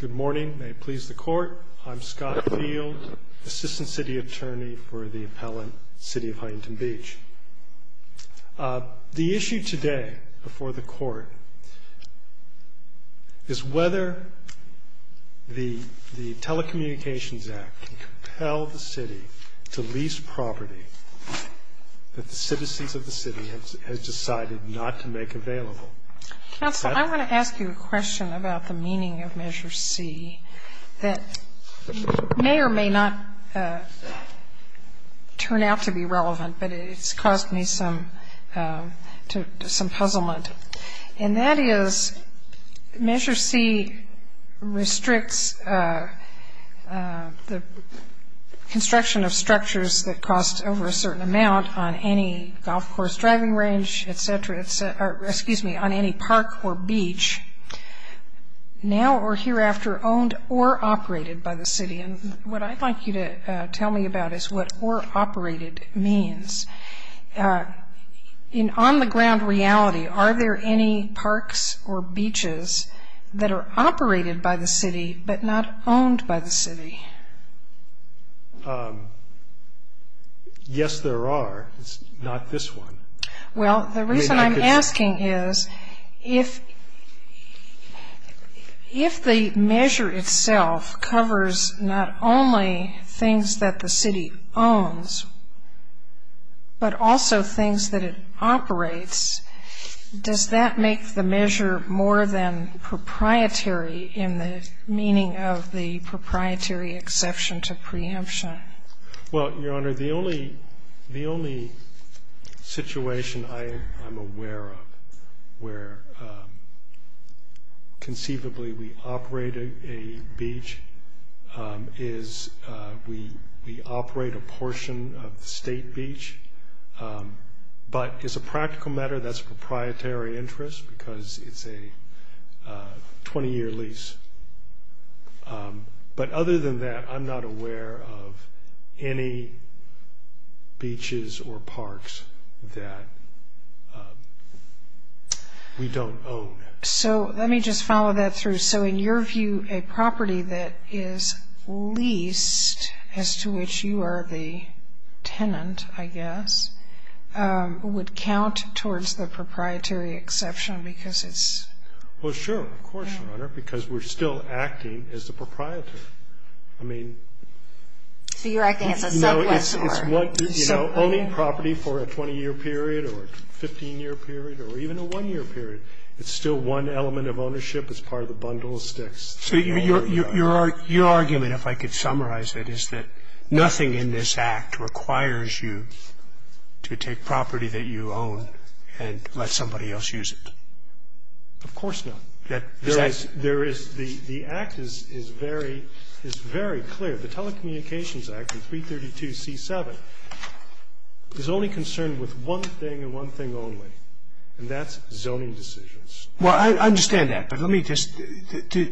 Good morning. May it please the Court, I'm Scott Field, Assistant City Attorney for the appellant, City of Huntington Beach. The issue today before the Court is whether the Telecommunications Act can compel the city to lease property that the citizens of the city have decided not to make available. Counsel, I want to ask you a question about the meaning of Measure C that may or may not turn out to be relevant, but it's caused me some puzzlement. And that is Measure C restricts the construction of structures that cost over a certain amount on any golf course driving range, et cetera, excuse me, on any park or beach, now or hereafter owned or operated by the city. And what I'd like you to tell me about is what or operated means. In on-the-ground reality, are there any parks or beaches that are operated by the city but not owned by the city? Yes, there are. It's not this one. Well, the reason I'm asking is if the measure itself covers not only things that the city owns but also things that it operates, does that make the measure more than proprietary in the meaning of the proprietary exception to preemption? Well, Your Honor, the only situation I'm aware of where conceivably we operate a beach is we operate a portion of the state beach. But as a practical matter, that's a proprietary interest because it's a 20-year lease. But other than that, I'm not aware of any beaches or parks that we don't own. So let me just follow that through. So in your view, a property that is leased, as to which you are the tenant, I guess, would count towards the proprietary exception because it's... it's still acting as a proprietary. I mean... So you're acting as a sub-customer. You know, owning property for a 20-year period or a 15-year period or even a one-year period, it's still one element of ownership as part of the bundle of sticks. So your argument, if I could summarize it, is that nothing in this Act requires you to take property that you own and let somebody else use it. Of course not. The Act is very clear. The Telecommunications Act in 332C7 is only concerned with one thing and one thing only, and that's zoning decisions. Well, I understand that. But let me just...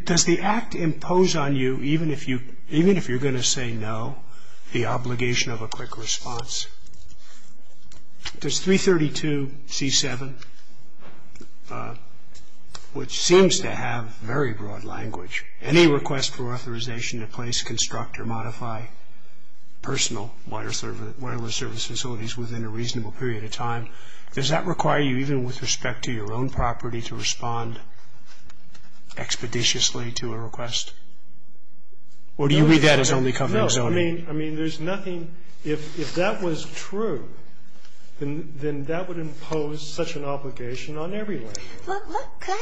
Does the Act impose on you, even if you're going to say no, the obligation of a quick response? Does 332C7, which seems to have very broad language, any request for authorization to place, construct or modify personal wireless service facilities within a reasonable period of time, does that require you, even with respect to your own property, to respond expeditiously to a request? Or do you read that as only covering zoning? I mean, there's nothing. If that was true, then that would impose such an obligation on everyone.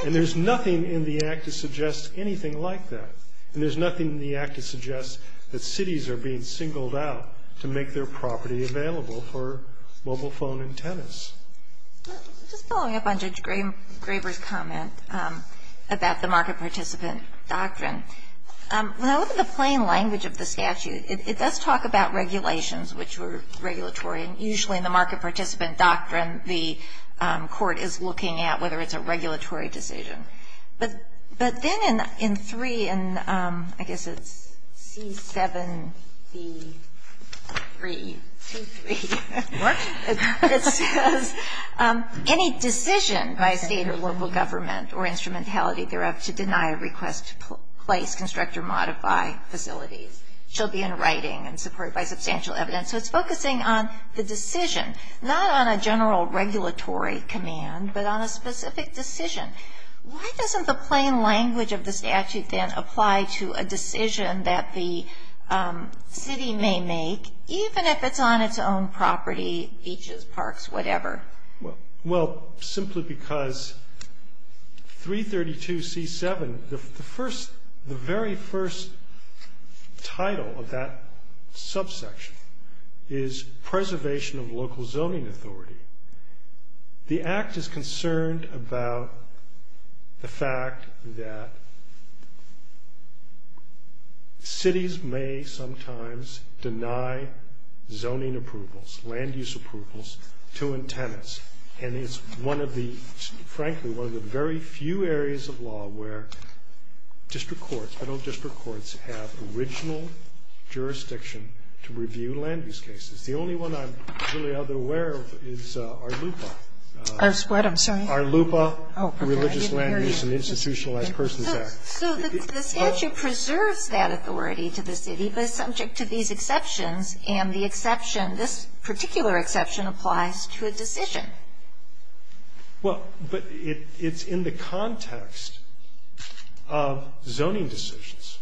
And there's nothing in the Act to suggest anything like that. And there's nothing in the Act to suggest that cities are being singled out to make their property available for mobile phone antennas. Just following up on Judge Graber's comment about the market participant doctrine, when I look at the plain language of the statute, it does talk about regulations, which were regulatory. And usually in the market participant doctrine, the court is looking at whether it's a regulatory decision. But then in 3, I guess it's C7B323, it says, any decision by a state or local government or instrumentality thereof to deny a request to place, construct or modify facilities shall be in writing and supported by substantial evidence. So it's focusing on the decision, not on a general regulatory command, but on a specific decision. Why doesn't the plain language of the statute then apply to a decision that the city may make, even if it's on its own property, beaches, parks, whatever? Well, simply because 332C7, the very first title of that subsection is preservation of local zoning authority. The Act is concerned about the fact that cities may sometimes deny zoning approvals, land use approvals, to antennas. And it's one of the, frankly, one of the very few areas of law where district courts, federal district courts, have original jurisdiction to review land use cases. The only one I'm really aware of is ARLUPA. I'm sorry? ARLUPA, Religious Land Use and Institutionalized Persons Act. So the statute preserves that authority to the city, but it's subject to these exceptions, and the exception, this particular exception, applies to a decision. Well, but it's in the context of zoning decisions.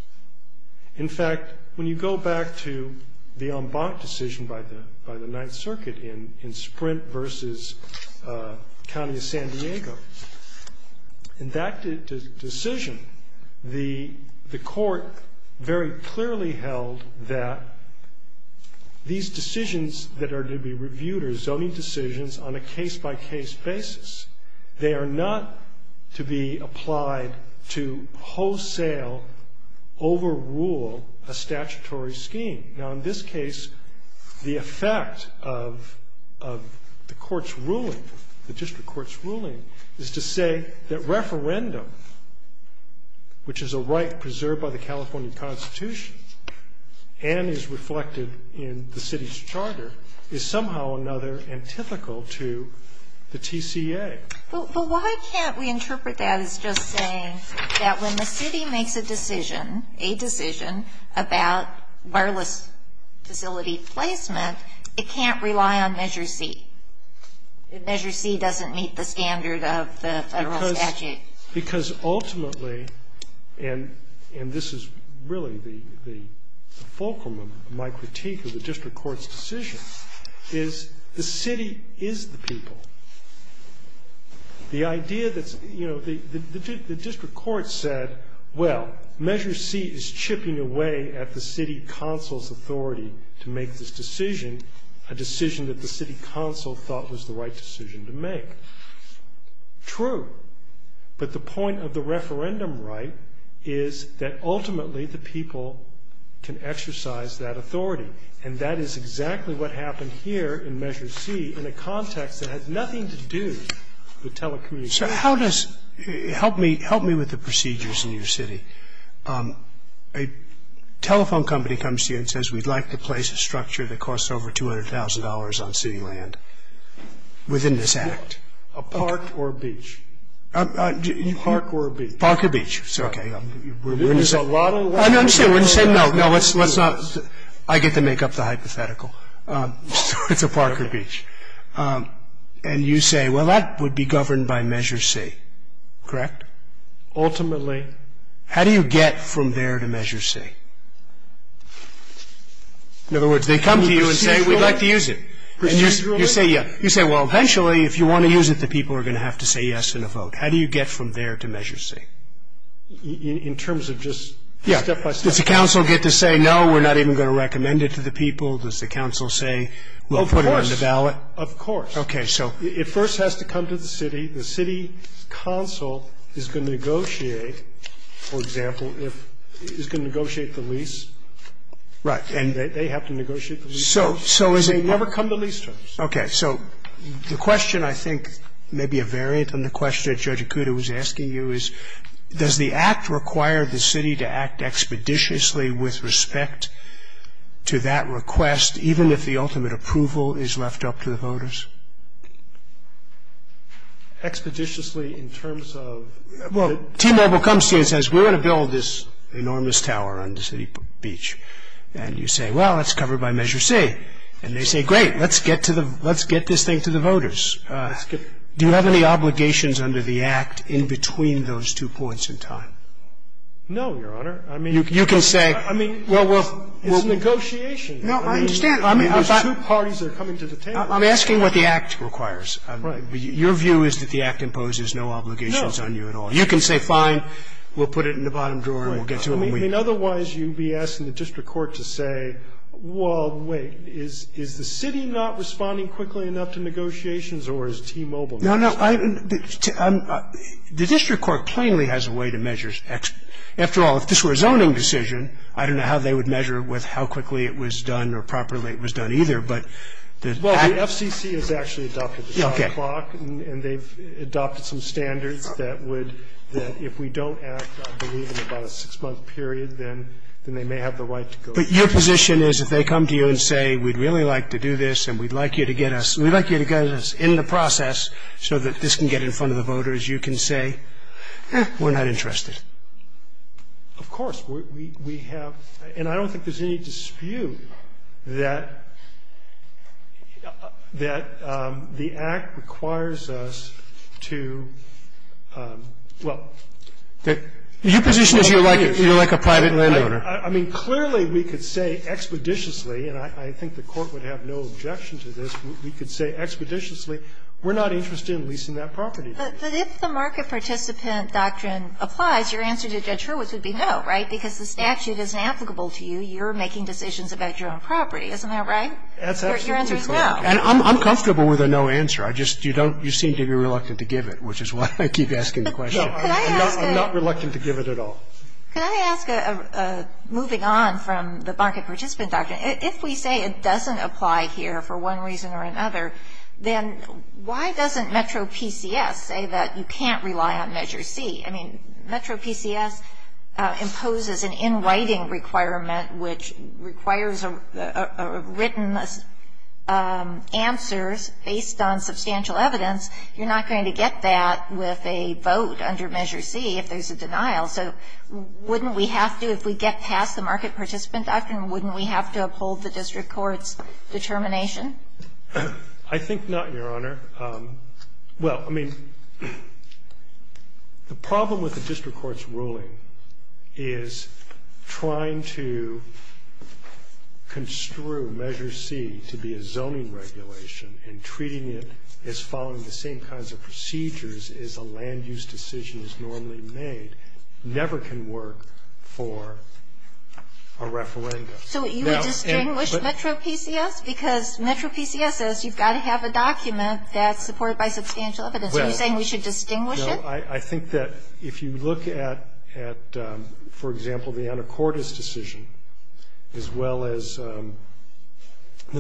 In fact, when you go back to the en banc decision by the Ninth Circuit in Sprint versus County of San Diego, in that decision, the court very clearly held that these decisions that are to be reviewed are zoning decisions on a case-by-case basis. They are not to be applied to wholesale overrule a statutory scheme. Now, in this case, the effect of the court's ruling, the district court's ruling, is to say that referendum, which is a right preserved by the California Constitution and is reflected in the city's charter, is somehow or another antithetical to the TCA. But why can't we interpret that as just saying that when the city makes a decision, a decision about wireless facility placement, it can't rely on Measure C? If Measure C doesn't meet the standard of the federal statute. Because ultimately, and this is really the fulcrum of my critique of the district court's decision, is the city is the people. The idea that's, you know, the district court said, well, Measure C is chipping away at the city council's authority to make this decision, a decision that the city council thought was the right decision to make. True. But the point of the referendum right is that ultimately the people can exercise that authority. And that is exactly what happened here in Measure C in a context that has nothing to do with telecommunications. So how does – help me with the procedures in your city. A telephone company comes to you and says, we'd like to place a structure that costs over $200,000 on city land within this act. A park or a beach? Park or a beach. Park or beach. It's okay. We're going to say no, no, let's not. I get to make up the hypothetical. It's a park or a beach. And you say, well, that would be governed by Measure C, correct? Ultimately. Ultimately. How do you get from there to Measure C? In other words, they come to you and say, we'd like to use it. And you say, yeah. You say, well, eventually if you want to use it, the people are going to have to say yes in a vote. How do you get from there to Measure C? In terms of just step by step. Yeah. Does the council get to say, no, we're not even going to recommend it to the people? Does the council say, we'll put it on the ballot? Of course. Of course. Okay. So it first has to come to the city. The city council is going to negotiate, for example, if it's going to negotiate the lease. Right. And they have to negotiate the lease terms. They never come to lease terms. Okay. So the question I think may be a variant on the question that Judge Ikuda was asking you is, does the Act require the city to act expeditiously with respect to that request, even if the ultimate approval is left up to the voters? Expeditiously in terms of? Well, T-Mobile comes to you and says, we're going to build this enormous tower on the city beach. And you say, well, it's covered by Measure C. And they say, great, let's get this thing to the voters. Do you have any obligations under the Act in between those two points in time? No, Your Honor. I mean. You can say. I mean, it's negotiation. No, I understand. I mean, there's two parties that are coming to the table. I'm asking what the Act requires. Right. Your view is that the Act imposes no obligations on you at all. No. You can say, fine, we'll put it in the bottom drawer and we'll get to it when we need it. Right. I mean, otherwise you'd be asking the district court to say, well, wait, is the city not responding quickly enough to negotiations or is T-Mobile not? No, no. The district court plainly has a way to measure expeditiously. After all, if this were a zoning decision, I don't know how they would measure with how quickly it was done or properly it was done either. But the Act. Well, the FCC has actually adopted the clock. Okay. And they've adopted some standards that would that if we don't act, I believe, in about a six-month period, then they may have the right to go through. But your position is if they come to you and say, we'd really like to do this and we'd like you to get us, we'd like you to get us in the process so that this can get in front of the voters, you can say, eh, we're not interested. Of course. We have, and I don't think there's any dispute that the Act requires us to, well. Your position is you're like a private landowner. I mean, clearly we could say expeditiously, and I think the Court would have no objection to this, we could say expeditiously, we're not interested in leasing that property. But if the market participant doctrine applies, your answer to Judge Hurwitz would be no, right, because the statute isn't applicable to you. You're making decisions about your own property. Isn't that right? Your answer is no. And I'm comfortable with a no answer. I just, you don't, you seem to be reluctant to give it, which is why I keep asking the question. I'm not reluctant to give it at all. Can I ask, moving on from the market participant doctrine, if we say it doesn't apply here for one reason or another, then why doesn't Metro PCS say that you can't rely on Measure C? I mean, Metro PCS imposes an in writing requirement which requires a written answer based on substantial evidence. You're not going to get that with a vote under Measure C if there's a denial. So wouldn't we have to, if we get past the market participant doctrine, wouldn't we have to uphold the district court's determination? I think not, Your Honor. Well, I mean, the problem with the district court's ruling is trying to construe Measure C to be a zoning regulation and treating it as following the same kinds of procedures as a land use decision is normally made never can work for a referendum. So you would distinguish Metro PCS because Metro PCS says you've got to have a document that's supported by substantial evidence. Are you saying we should distinguish it? No. I think that if you look at, for example, the Anacortes decision, as well as the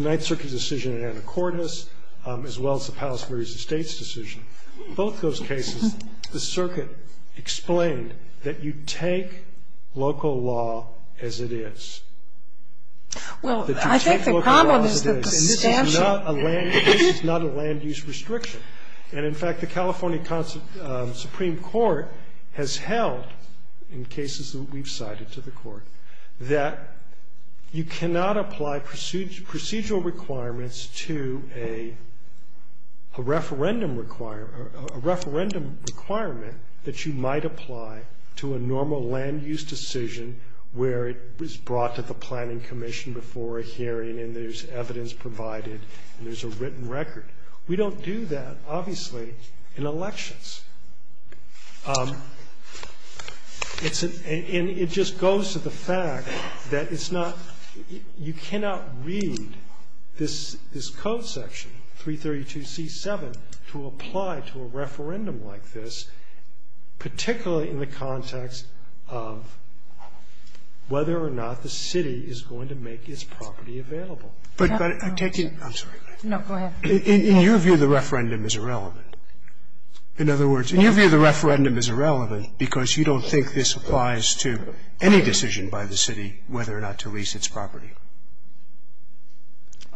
Ninth Circuit decision in Anacortes, as well as the Palos Verdes Estates decision, both those cases, the circuit explained that you take local law as it is. Well, I think the problem is the distinction. This is not a land use restriction. And, in fact, the California Supreme Court has held in cases that we've cited to the court that you cannot apply procedural requirements to a referendum requirement that you might apply to a normal land use decision where it was brought to the And there's a written record. We don't do that, obviously, in elections. And it just goes to the fact that it's not you cannot read this code section, 332C7, to apply to a referendum like this, particularly in the context of whether or not the city is going to make its property available. I'm sorry. No, go ahead. In your view, the referendum is irrelevant. In other words, in your view, the referendum is irrelevant because you don't think this applies to any decision by the city whether or not to lease its property.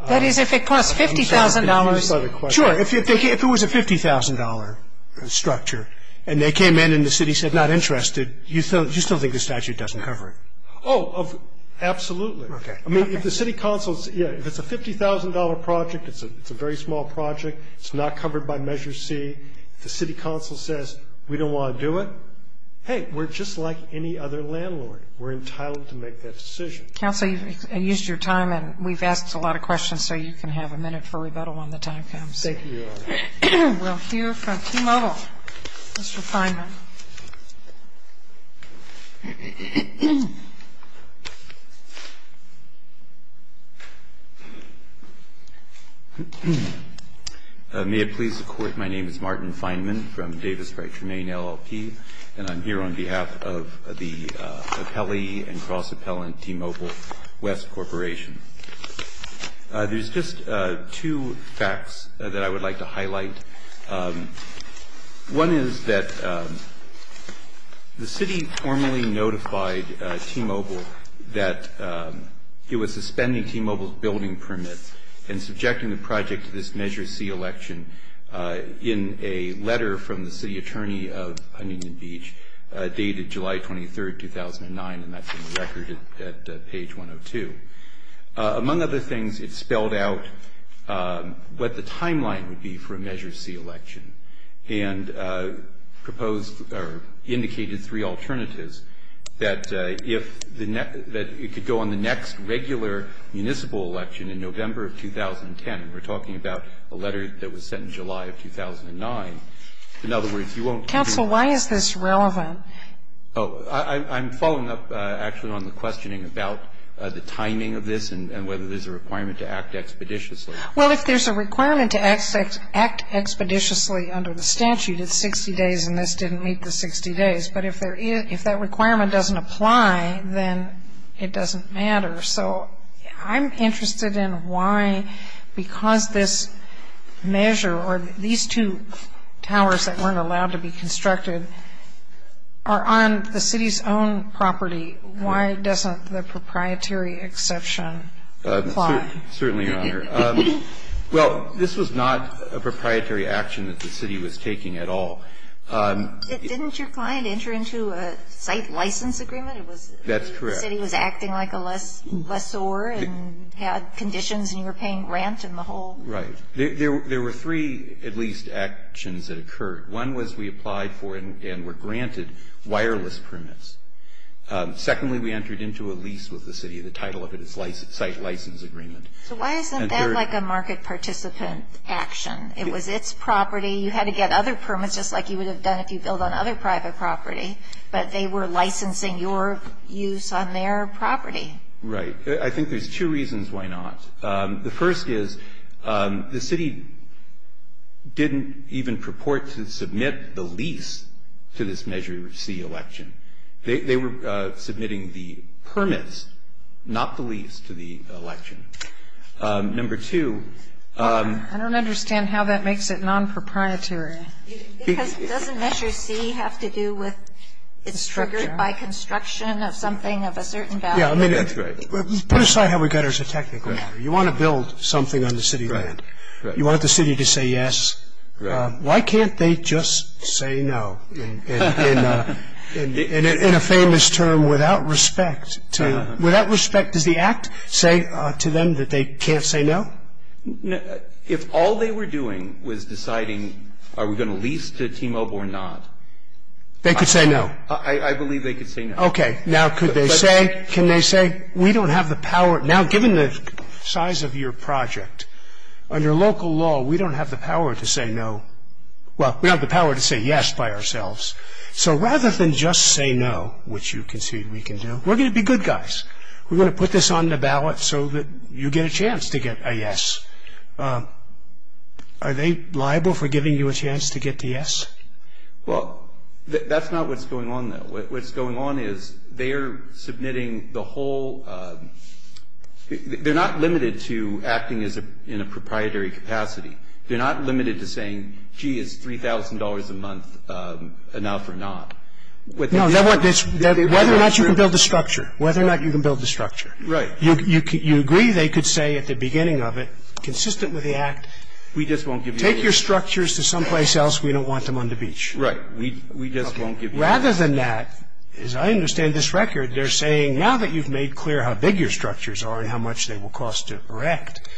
That is, if it costs $50,000. Sure. If it was a $50,000 structure and they came in and the city said not interested, you still think the statute doesn't cover it? Oh, absolutely. Okay. I mean, if the city council, if it's a $50,000 project, it's a very small project, it's not covered by Measure C, the city council says we don't want to do it, hey, we're just like any other landlord. We're entitled to make that decision. Counsel, you've used your time, and we've asked a lot of questions, so you can have a minute for rebuttal when the time comes. Thank you, Your Honor. We'll hear from T-Mobile. Mr. Fineman. May it please the Court, my name is Martin Fineman from Davis by Tremaine LLP, and I'm here on behalf of the appellee and cross-appellant T-Mobile West Corporation. There's just two facts that I would like to highlight. The city formally notified T-Mobile that it was suspending T-Mobile's building permit and subjecting the project to this Measure C election in a letter from the city attorney of Huntington Beach dated July 23, 2009, and that's in the record at page 102. Among other things, it spelled out what the timeline would be for a Measure C election and proposed or indicated three alternatives, that it could go on the next regular municipal election in November of 2010, and we're talking about a letter that was sent in July of 2009. In other words, you won't do that. Counsel, why is this relevant? I'm following up, actually, on the questioning about the timing of this and whether there's a requirement to act expeditiously. Well, if there's a requirement to act expeditiously under the statute, it's 60 days, and this didn't meet the 60 days. But if that requirement doesn't apply, then it doesn't matter. So I'm interested in why, because this measure, or these two towers that weren't allowed to be constructed are on the city's own property, why doesn't the proprietary exception apply? Certainly, Your Honor. Well, this was not a proprietary action that the city was taking at all. Didn't your client enter into a site license agreement? That's correct. The city was acting like a lessor and had conditions, and you were paying rent and the whole? Right. There were three, at least, actions that occurred. One was we applied for and were granted wireless permits. Secondly, we entered into a lease with the city. The title of it is site license agreement. So why isn't that like a market participant action? It was its property. You had to get other permits, just like you would have done if you built on other private property, but they were licensing your use on their property. Right. I think there's two reasons why not. The first is the city didn't even purport to submit the lease to this Measure C election. They were submitting the permits, not the lease, to the election. Number two ---- I don't understand how that makes it non-proprietary. Because doesn't Measure C have to do with it's triggered by construction of something of a certain value? Yeah, I mean, that's right. Put aside how we got there as a technical matter. You want to build something on the city land. Right. You want the city to say yes. Right. Why can't they just say no in a famous term, without respect? Without respect, does the act say to them that they can't say no? If all they were doing was deciding, are we going to lease to T-Mobile or not? They could say no. I believe they could say no. Okay. Now could they say? Can they say we don't have the power? Now, given the size of your project, under local law, we don't have the power to say no. Well, we have the power to say yes by ourselves. So rather than just say no, which you concede we can do, we're going to be good guys. We're going to put this on the ballot so that you get a chance to get a yes. Are they liable for giving you a chance to get the yes? Well, that's not what's going on, though. What's going on is they're submitting the whole – they're not limited to acting in a proprietary capacity. They're not limited to saying, gee, is $3,000 a month enough or not. No. Whether or not you can build the structure. Whether or not you can build the structure. Right. You agree they could say at the beginning of it, consistent with the act, take your structures to someplace else. We don't want them on the beach. Right. We just won't give you a chance. Rather than that, as I understand this record, they're saying now that you've made clear how big your structures are and how much they will cost to erect,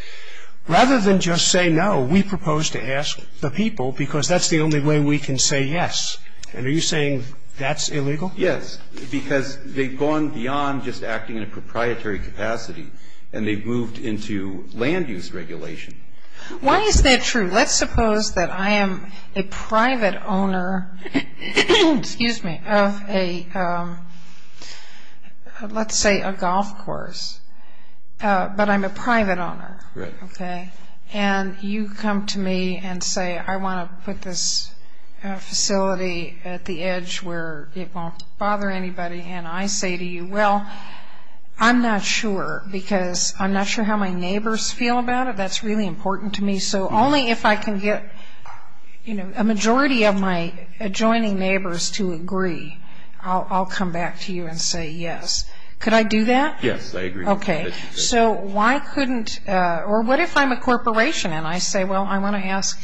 rather than just say no, we propose to ask the people because that's the only way we can say yes. And are you saying that's illegal? Yes, because they've gone beyond just acting in a proprietary capacity, and they've moved into land use regulation. Why is that true? Let's suppose that I am a private owner of a – let's say a golf course, but I'm a private owner. Right. Okay. And you come to me and say I want to put this facility at the edge where it won't bother anybody, and I say to you, well, I'm not sure because I'm not sure how my neighbors feel about it. That's really important to me. So only if I can get, you know, a majority of my adjoining neighbors to agree, I'll come back to you and say yes. Could I do that? Yes, I agree. Okay. So why couldn't – or what if I'm a corporation and I say, well, I want to ask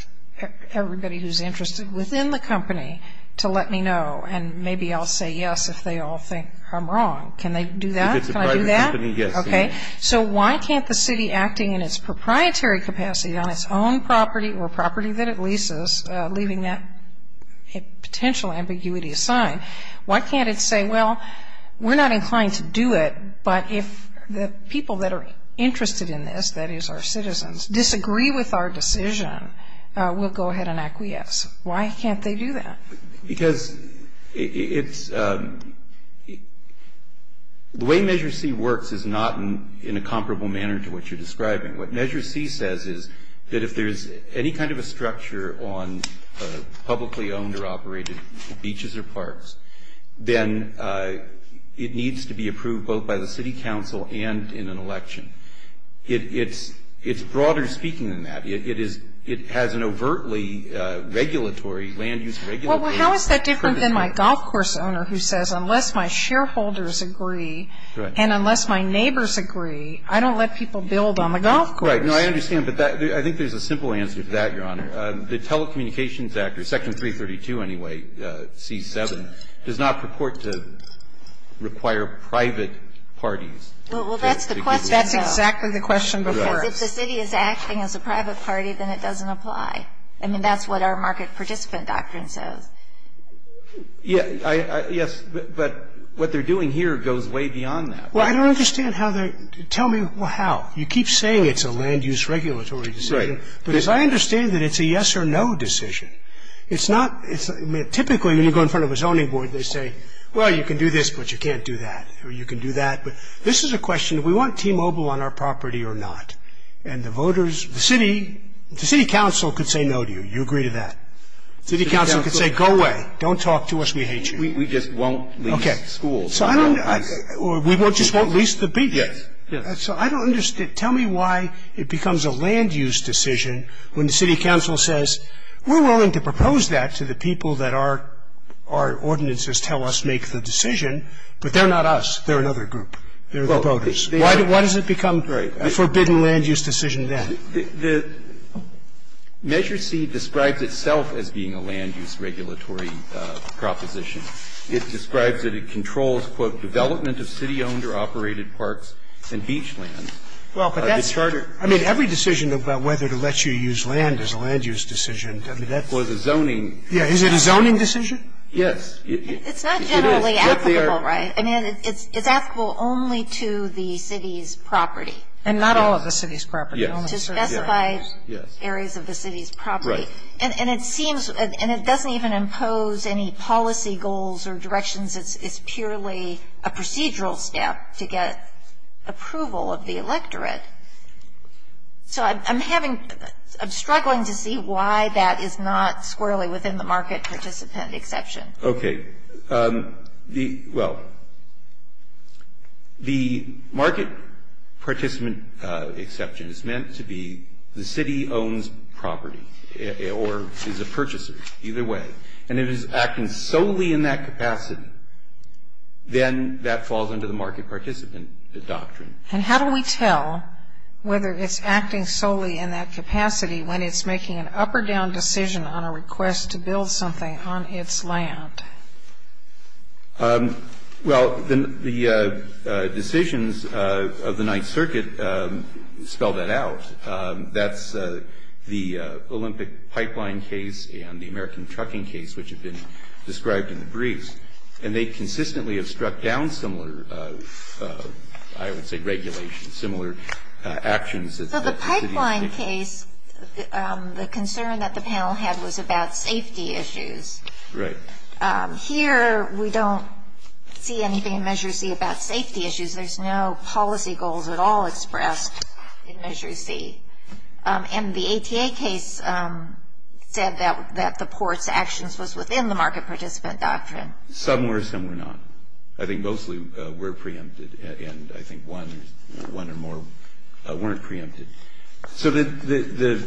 everybody who's interested within the company to let me know, and maybe I'll say yes if they all think I'm wrong. Can they do that? If it's a private company, yes. Okay. So why can't the city acting in its proprietary capacity on its own property or property that it leases, leaving that potential ambiguity aside, why can't it say, well, we're not inclined to do it, but if the people that are interested in this, that is our citizens, disagree with our decision, we'll go ahead and acquiesce. Why can't they do that? Because it's – the way Measure C works is not in a comparable manner to what you're describing. What Measure C says is that if there's any kind of a structure on publicly owned or operated beaches or parks, then it needs to be approved both by the city council and in an election. It's broader speaking than that. The problem is that it's a private company. It is – it has an overtly regulatory, land-use regulatory – Well, how is that different than my golf course owner who says unless my shareholders agree and unless my neighbors agree, I don't let people build on the golf course? Right. No, I understand. But I think there's a simple answer to that, Your Honor. The Telecommunications Act, Section 332, anyway, C-7, does not purport to require private parties. Well, that's the question, though. That's exactly the question, because if the city is acting as a private party, then it doesn't apply. I mean, that's what our market participant doctrine says. Yes, but what they're doing here goes way beyond that. Well, I don't understand how they – tell me how. You keep saying it's a land-use regulatory decision. Right. But as I understand it, it's a yes or no decision. It's not – typically when you go in front of a zoning board, they say, well, you can do this, but you can't do that, or you can do that. But this is a question, do we want T-Mobile on our property or not? And the voters – the city – the city council could say no to you. You agree to that. The city council could say, go away. Don't talk to us. We hate you. We just won't lease schools. Okay. So I don't – or we just won't lease the beaches. Yes. Yes. So I don't understand – tell me why it becomes a land-use decision when the city council says, we're willing to propose that to the people that our ordinances tell us make the decision, but they're not us. They're another group. They're the voters. Why does it become the forbidden land-use decision then? The Measure C describes itself as being a land-use regulatory proposition. It describes that it controls, quote, development of city-owned or operated parks and beach lands. Well, but that's – I mean, every decision about whether to let you use land is a land-use decision. I mean, that was a zoning – Yeah. Is it a zoning decision? Yes. It's not generally applicable, right? I mean, it's applicable only to the city's property. And not all of the city's property. Yes. To specified areas of the city's property. Right. And it seems – and it doesn't even impose any policy goals or directions. It's purely a procedural step to get approval of the electorate. So I'm having – I'm struggling to see why that is not squarely within the market participant exception. Okay. The – well, the market participant exception is meant to be the city owns property or is a purchaser. Either way. And if it's acting solely in that capacity, then that falls under the market participant doctrine. And how do we tell whether it's acting solely in that capacity when it's making an up or down decision on a request to build something on its land? Well, the decisions of the Ninth Circuit spell that out. That's the Olympic pipeline case and the American trucking case, which have been described in the briefs. And they consistently have struck down similar, I would say, regulations, similar actions. So the pipeline case, the concern that the panel had was about safety issues. Right. Here we don't see anything in Measure C about safety issues. There's no policy goals at all expressed in Measure C. And the ATA case said that the port's actions was within the market participant doctrine. Some were, some were not. I think mostly were preempted. And I think one or more weren't preempted. So the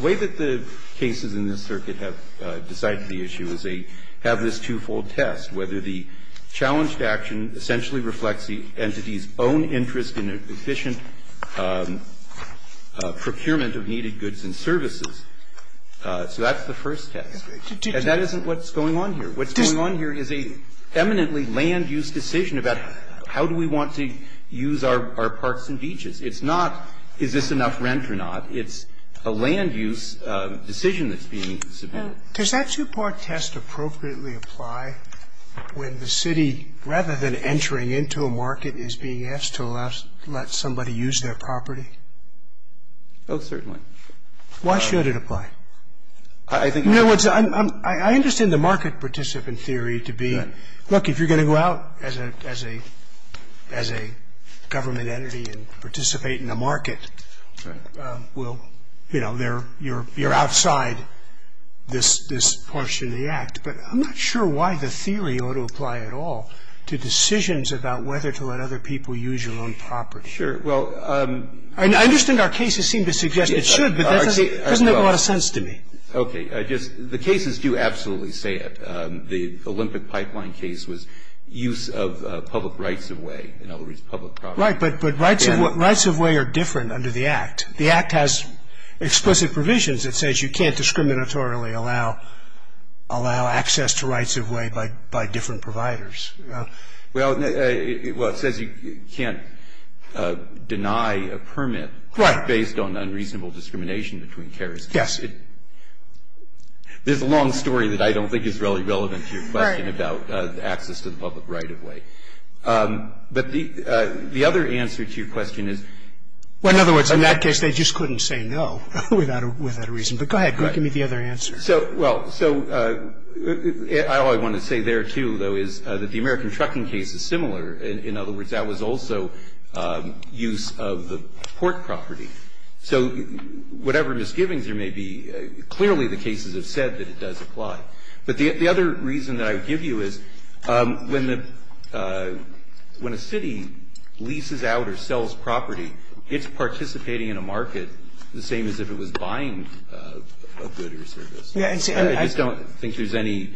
way that the cases in this circuit have decided the issue is they have this twofold test, whether the challenged action essentially reflects the entity's own interest in efficient procurement of needed goods and services. So that's the first test. And that isn't what's going on here. What's going on here is an eminently land-use decision about how do we want to use our parks and beaches. It's not is this enough rent or not. It's a land-use decision that's being submitted. Scalia. Does that two-part test appropriately apply when the city, rather than entering into a market, is being asked to let somebody use their property? Oh, certainly. Why should it apply? You know, I understand the market participant theory to be, look, if you're going to go out as a government entity and participate in a market, well, you know, you're outside this portion of the Act. But I'm not sure why the theory ought to apply at all to decisions about whether to let other people use your own property. Sure. Well, I'm I understand our cases seem to suggest it should, but doesn't it want a sense to me? Okay. The cases do absolutely say it. The Olympic pipeline case was use of public rights of way, in other words, public property. Right. But rights of way are different under the Act. The Act has explicit provisions. It says you can't discriminatorily allow access to rights of way by different providers. Well, it says you can't deny a permit based on unreasonable discrimination between carriers. Yes. There's a long story that I don't think is really relevant to your question about access to the public right of way. But the other answer to your question is Well, in other words, in that case, they just couldn't say no without a reason. But go ahead. Give me the other answer. Well, so all I want to say there, too, though, is that the American trucking case is similar. In other words, that was also use of the port property. So whatever misgivings there may be, clearly the cases have said that it does apply. But the other reason that I would give you is when a city leases out or sells property, it's participating in a market the same as if it was buying a good or a service. I just don't think there's any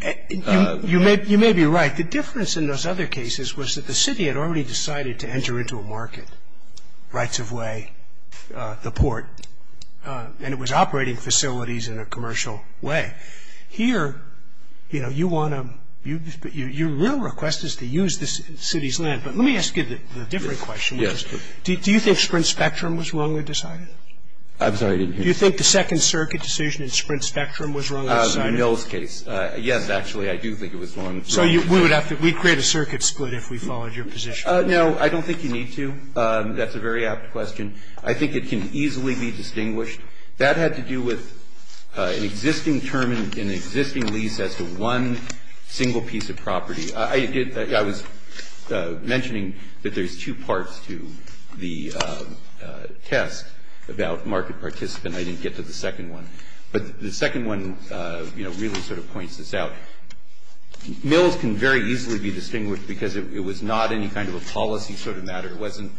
You may be right. The difference in those other cases was that the city had already decided to enter into a market, rights of way, the port. And it was operating facilities in a commercial way. Here, you know, you want to Your real request is to use the city's land. But let me ask you the different question. Yes. Do you think Sprint Spectrum was wrongly decided? I'm sorry, I didn't hear you. Do you think the Second Circuit decision in Sprint Spectrum was wrongly decided? The Mills case. Yes, actually, I do think it was wrongly decided. So we would have to We'd create a circuit split if we followed your position. No, I don't think you need to. That's a very apt question. I think it can easily be distinguished. That had to do with an existing term in an existing lease as to one single piece of property. I was mentioning that there's two parts to the test about market participant. I didn't get to the second one. But the second one, you know, really sort of points this out. Mills can very easily be distinguished because it was not any kind of a policy sort of matter. It wasn't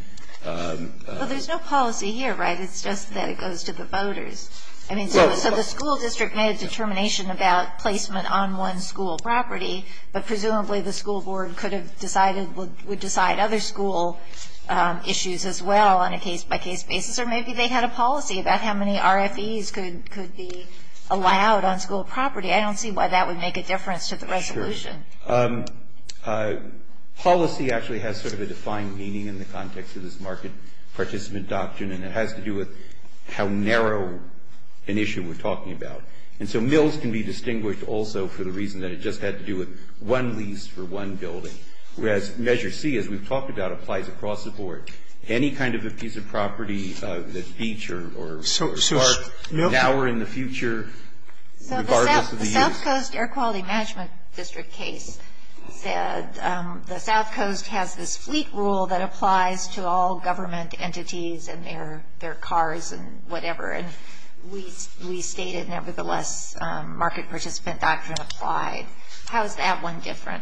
Well, there's no policy here, right? It's just that it goes to the voters. I mean, so the school district made a determination about placement on one school property. But presumably the school board could have decided, would decide other school issues as well on a case-by-case basis. Or maybe they had a policy about how many RFEs could be allowed on school property. I don't see why that would make a difference to the resolution. Sure. Policy actually has sort of a defined meaning in the context of this market participant doctrine. And it has to do with how narrow an issue we're talking about. And so Mills can be distinguished also for the reason that it just had to do with one lease for one building. Whereas Measure C, as we've talked about, applies across the board. Any kind of a piece of property that's beach or park now or in the future The South Coast Air Quality Management District case said the South Coast has this fleet rule that applies to all government entities and their cars and whatever. And we state it nevertheless, market participant doctrine applied. How is that one different?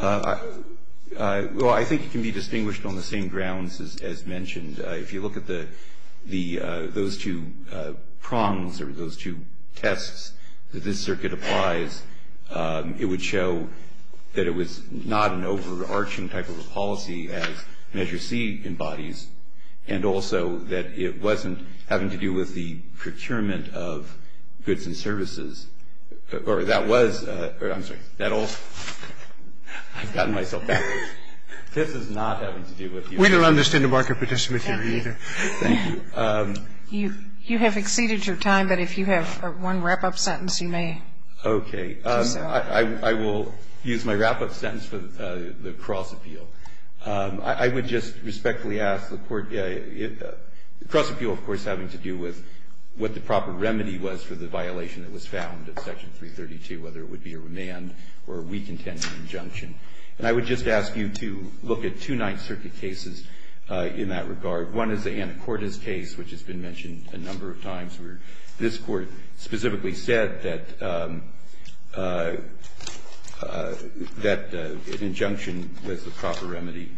Well, I think it can be distinguished on the same grounds as mentioned. If you look at those two prongs or those two tests that this circuit applies, it would show that it was not an overarching type of a policy as Measure C embodies. And also that it wasn't having to do with the procurement of goods and services. Or that was. I'm sorry. That all. I've gotten myself back. This is not having to do with. We don't understand the market participant theory either. Thank you. You have exceeded your time. But if you have one wrap-up sentence, you may. Okay. I will use my wrap-up sentence for the cross appeal. I would just respectfully ask the Court. The cross appeal, of course, having to do with what the proper remedy was for the violation that was found in Section 332, whether it would be a remand or a weak intent injunction. And I would just ask you to look at two Ninth Circuit cases in that regard. One is the Anacortes case, which has been mentioned a number of times, where this Court specifically said that an injunction was the proper remedy.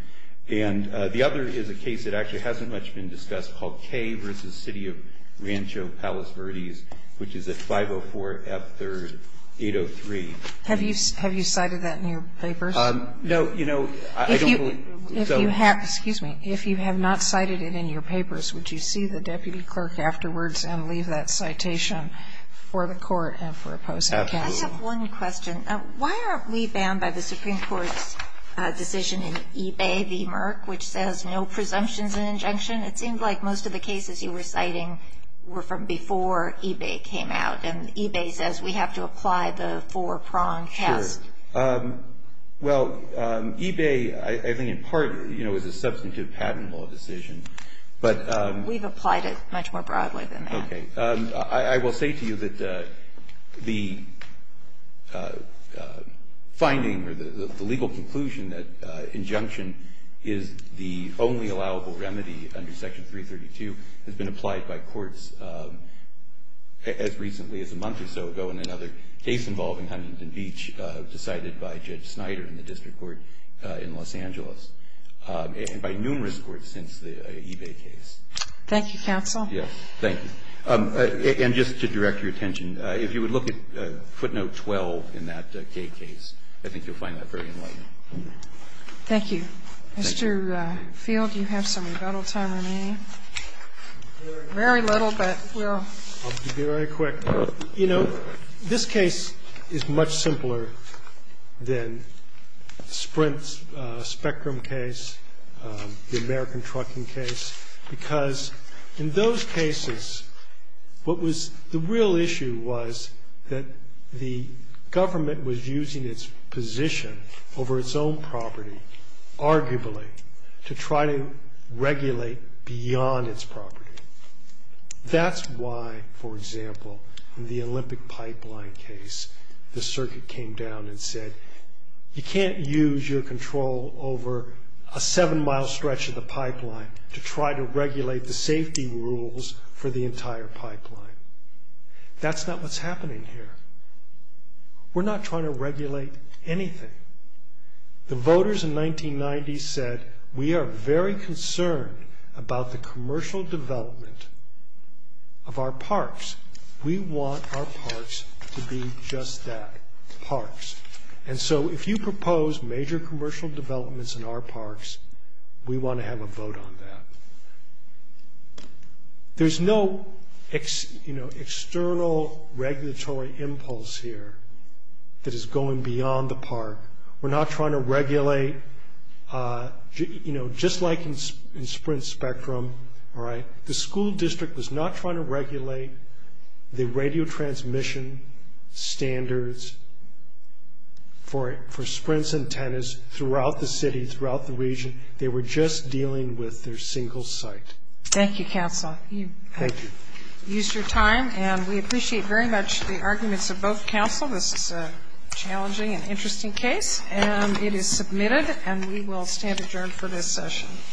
And the other is a case that actually hasn't much been discussed, called Kay v. City of Rancho Palos Verdes, which is at 504 F. 3rd, 803. Have you cited that in your papers? No. You know, I don't believe so. Excuse me. If you have not cited it in your papers, would you see the deputy clerk afterwards and leave that citation for the Court and for opposing counsel? Absolutely. I have one question. Why aren't we bound by the Supreme Court's decision in eBay v. Merck, which says no presumptions in injunction? It seemed like most of the cases you were citing were from before eBay came out. And eBay says we have to apply the four-prong test. Sure. Well, eBay, I think, in part, you know, is a substantive patent law decision. We've applied it much more broadly than that. Okay. I will say to you that the finding or the legal conclusion that injunction is the only allowable remedy under Section 332 has been applied by courts as recently as a month or so ago in another case involving Huntington Beach decided by Judge Snyder in the district court in Los Angeles and by numerous courts since the eBay case. Thank you, counsel. Yes. Thank you. And just to direct your attention, if you would look at footnote 12 in that case, I think you'll find that very enlightening. Thank you. Mr. Field, do you have some rebuttal time remaining? Very little, but we'll be very quick. You know, this case is much simpler than Sprint's Spectrum case, the American Trucking case, because in those cases what was the real issue was that the government was using its position over its own property arguably to try to regulate beyond its property. That's why, for example, in the Olympic Pipeline case, the circuit came down and said, you can't use your control over a seven-mile stretch of the pipeline to try to regulate the safety rules for the entire pipeline. That's not what's happening here. We're not trying to regulate anything. The voters in 1990 said, we are very concerned about the commercial development of our parks. We want our parks to be just that, parks. And so if you propose major commercial developments in our parks, we want to have a vote on that. There's no external regulatory impulse here that is going beyond the park. We're not trying to regulate, just like in Sprint's Spectrum, the school district was not trying to regulate the radio transmission standards for Sprint's antennas throughout the city, throughout the region. They were just dealing with their single site. Thank you, counsel. Thank you. You've used your time, and we appreciate very much the arguments of both counsel. This is a challenging and interesting case, and it is submitted, and we will stand adjourned for this session.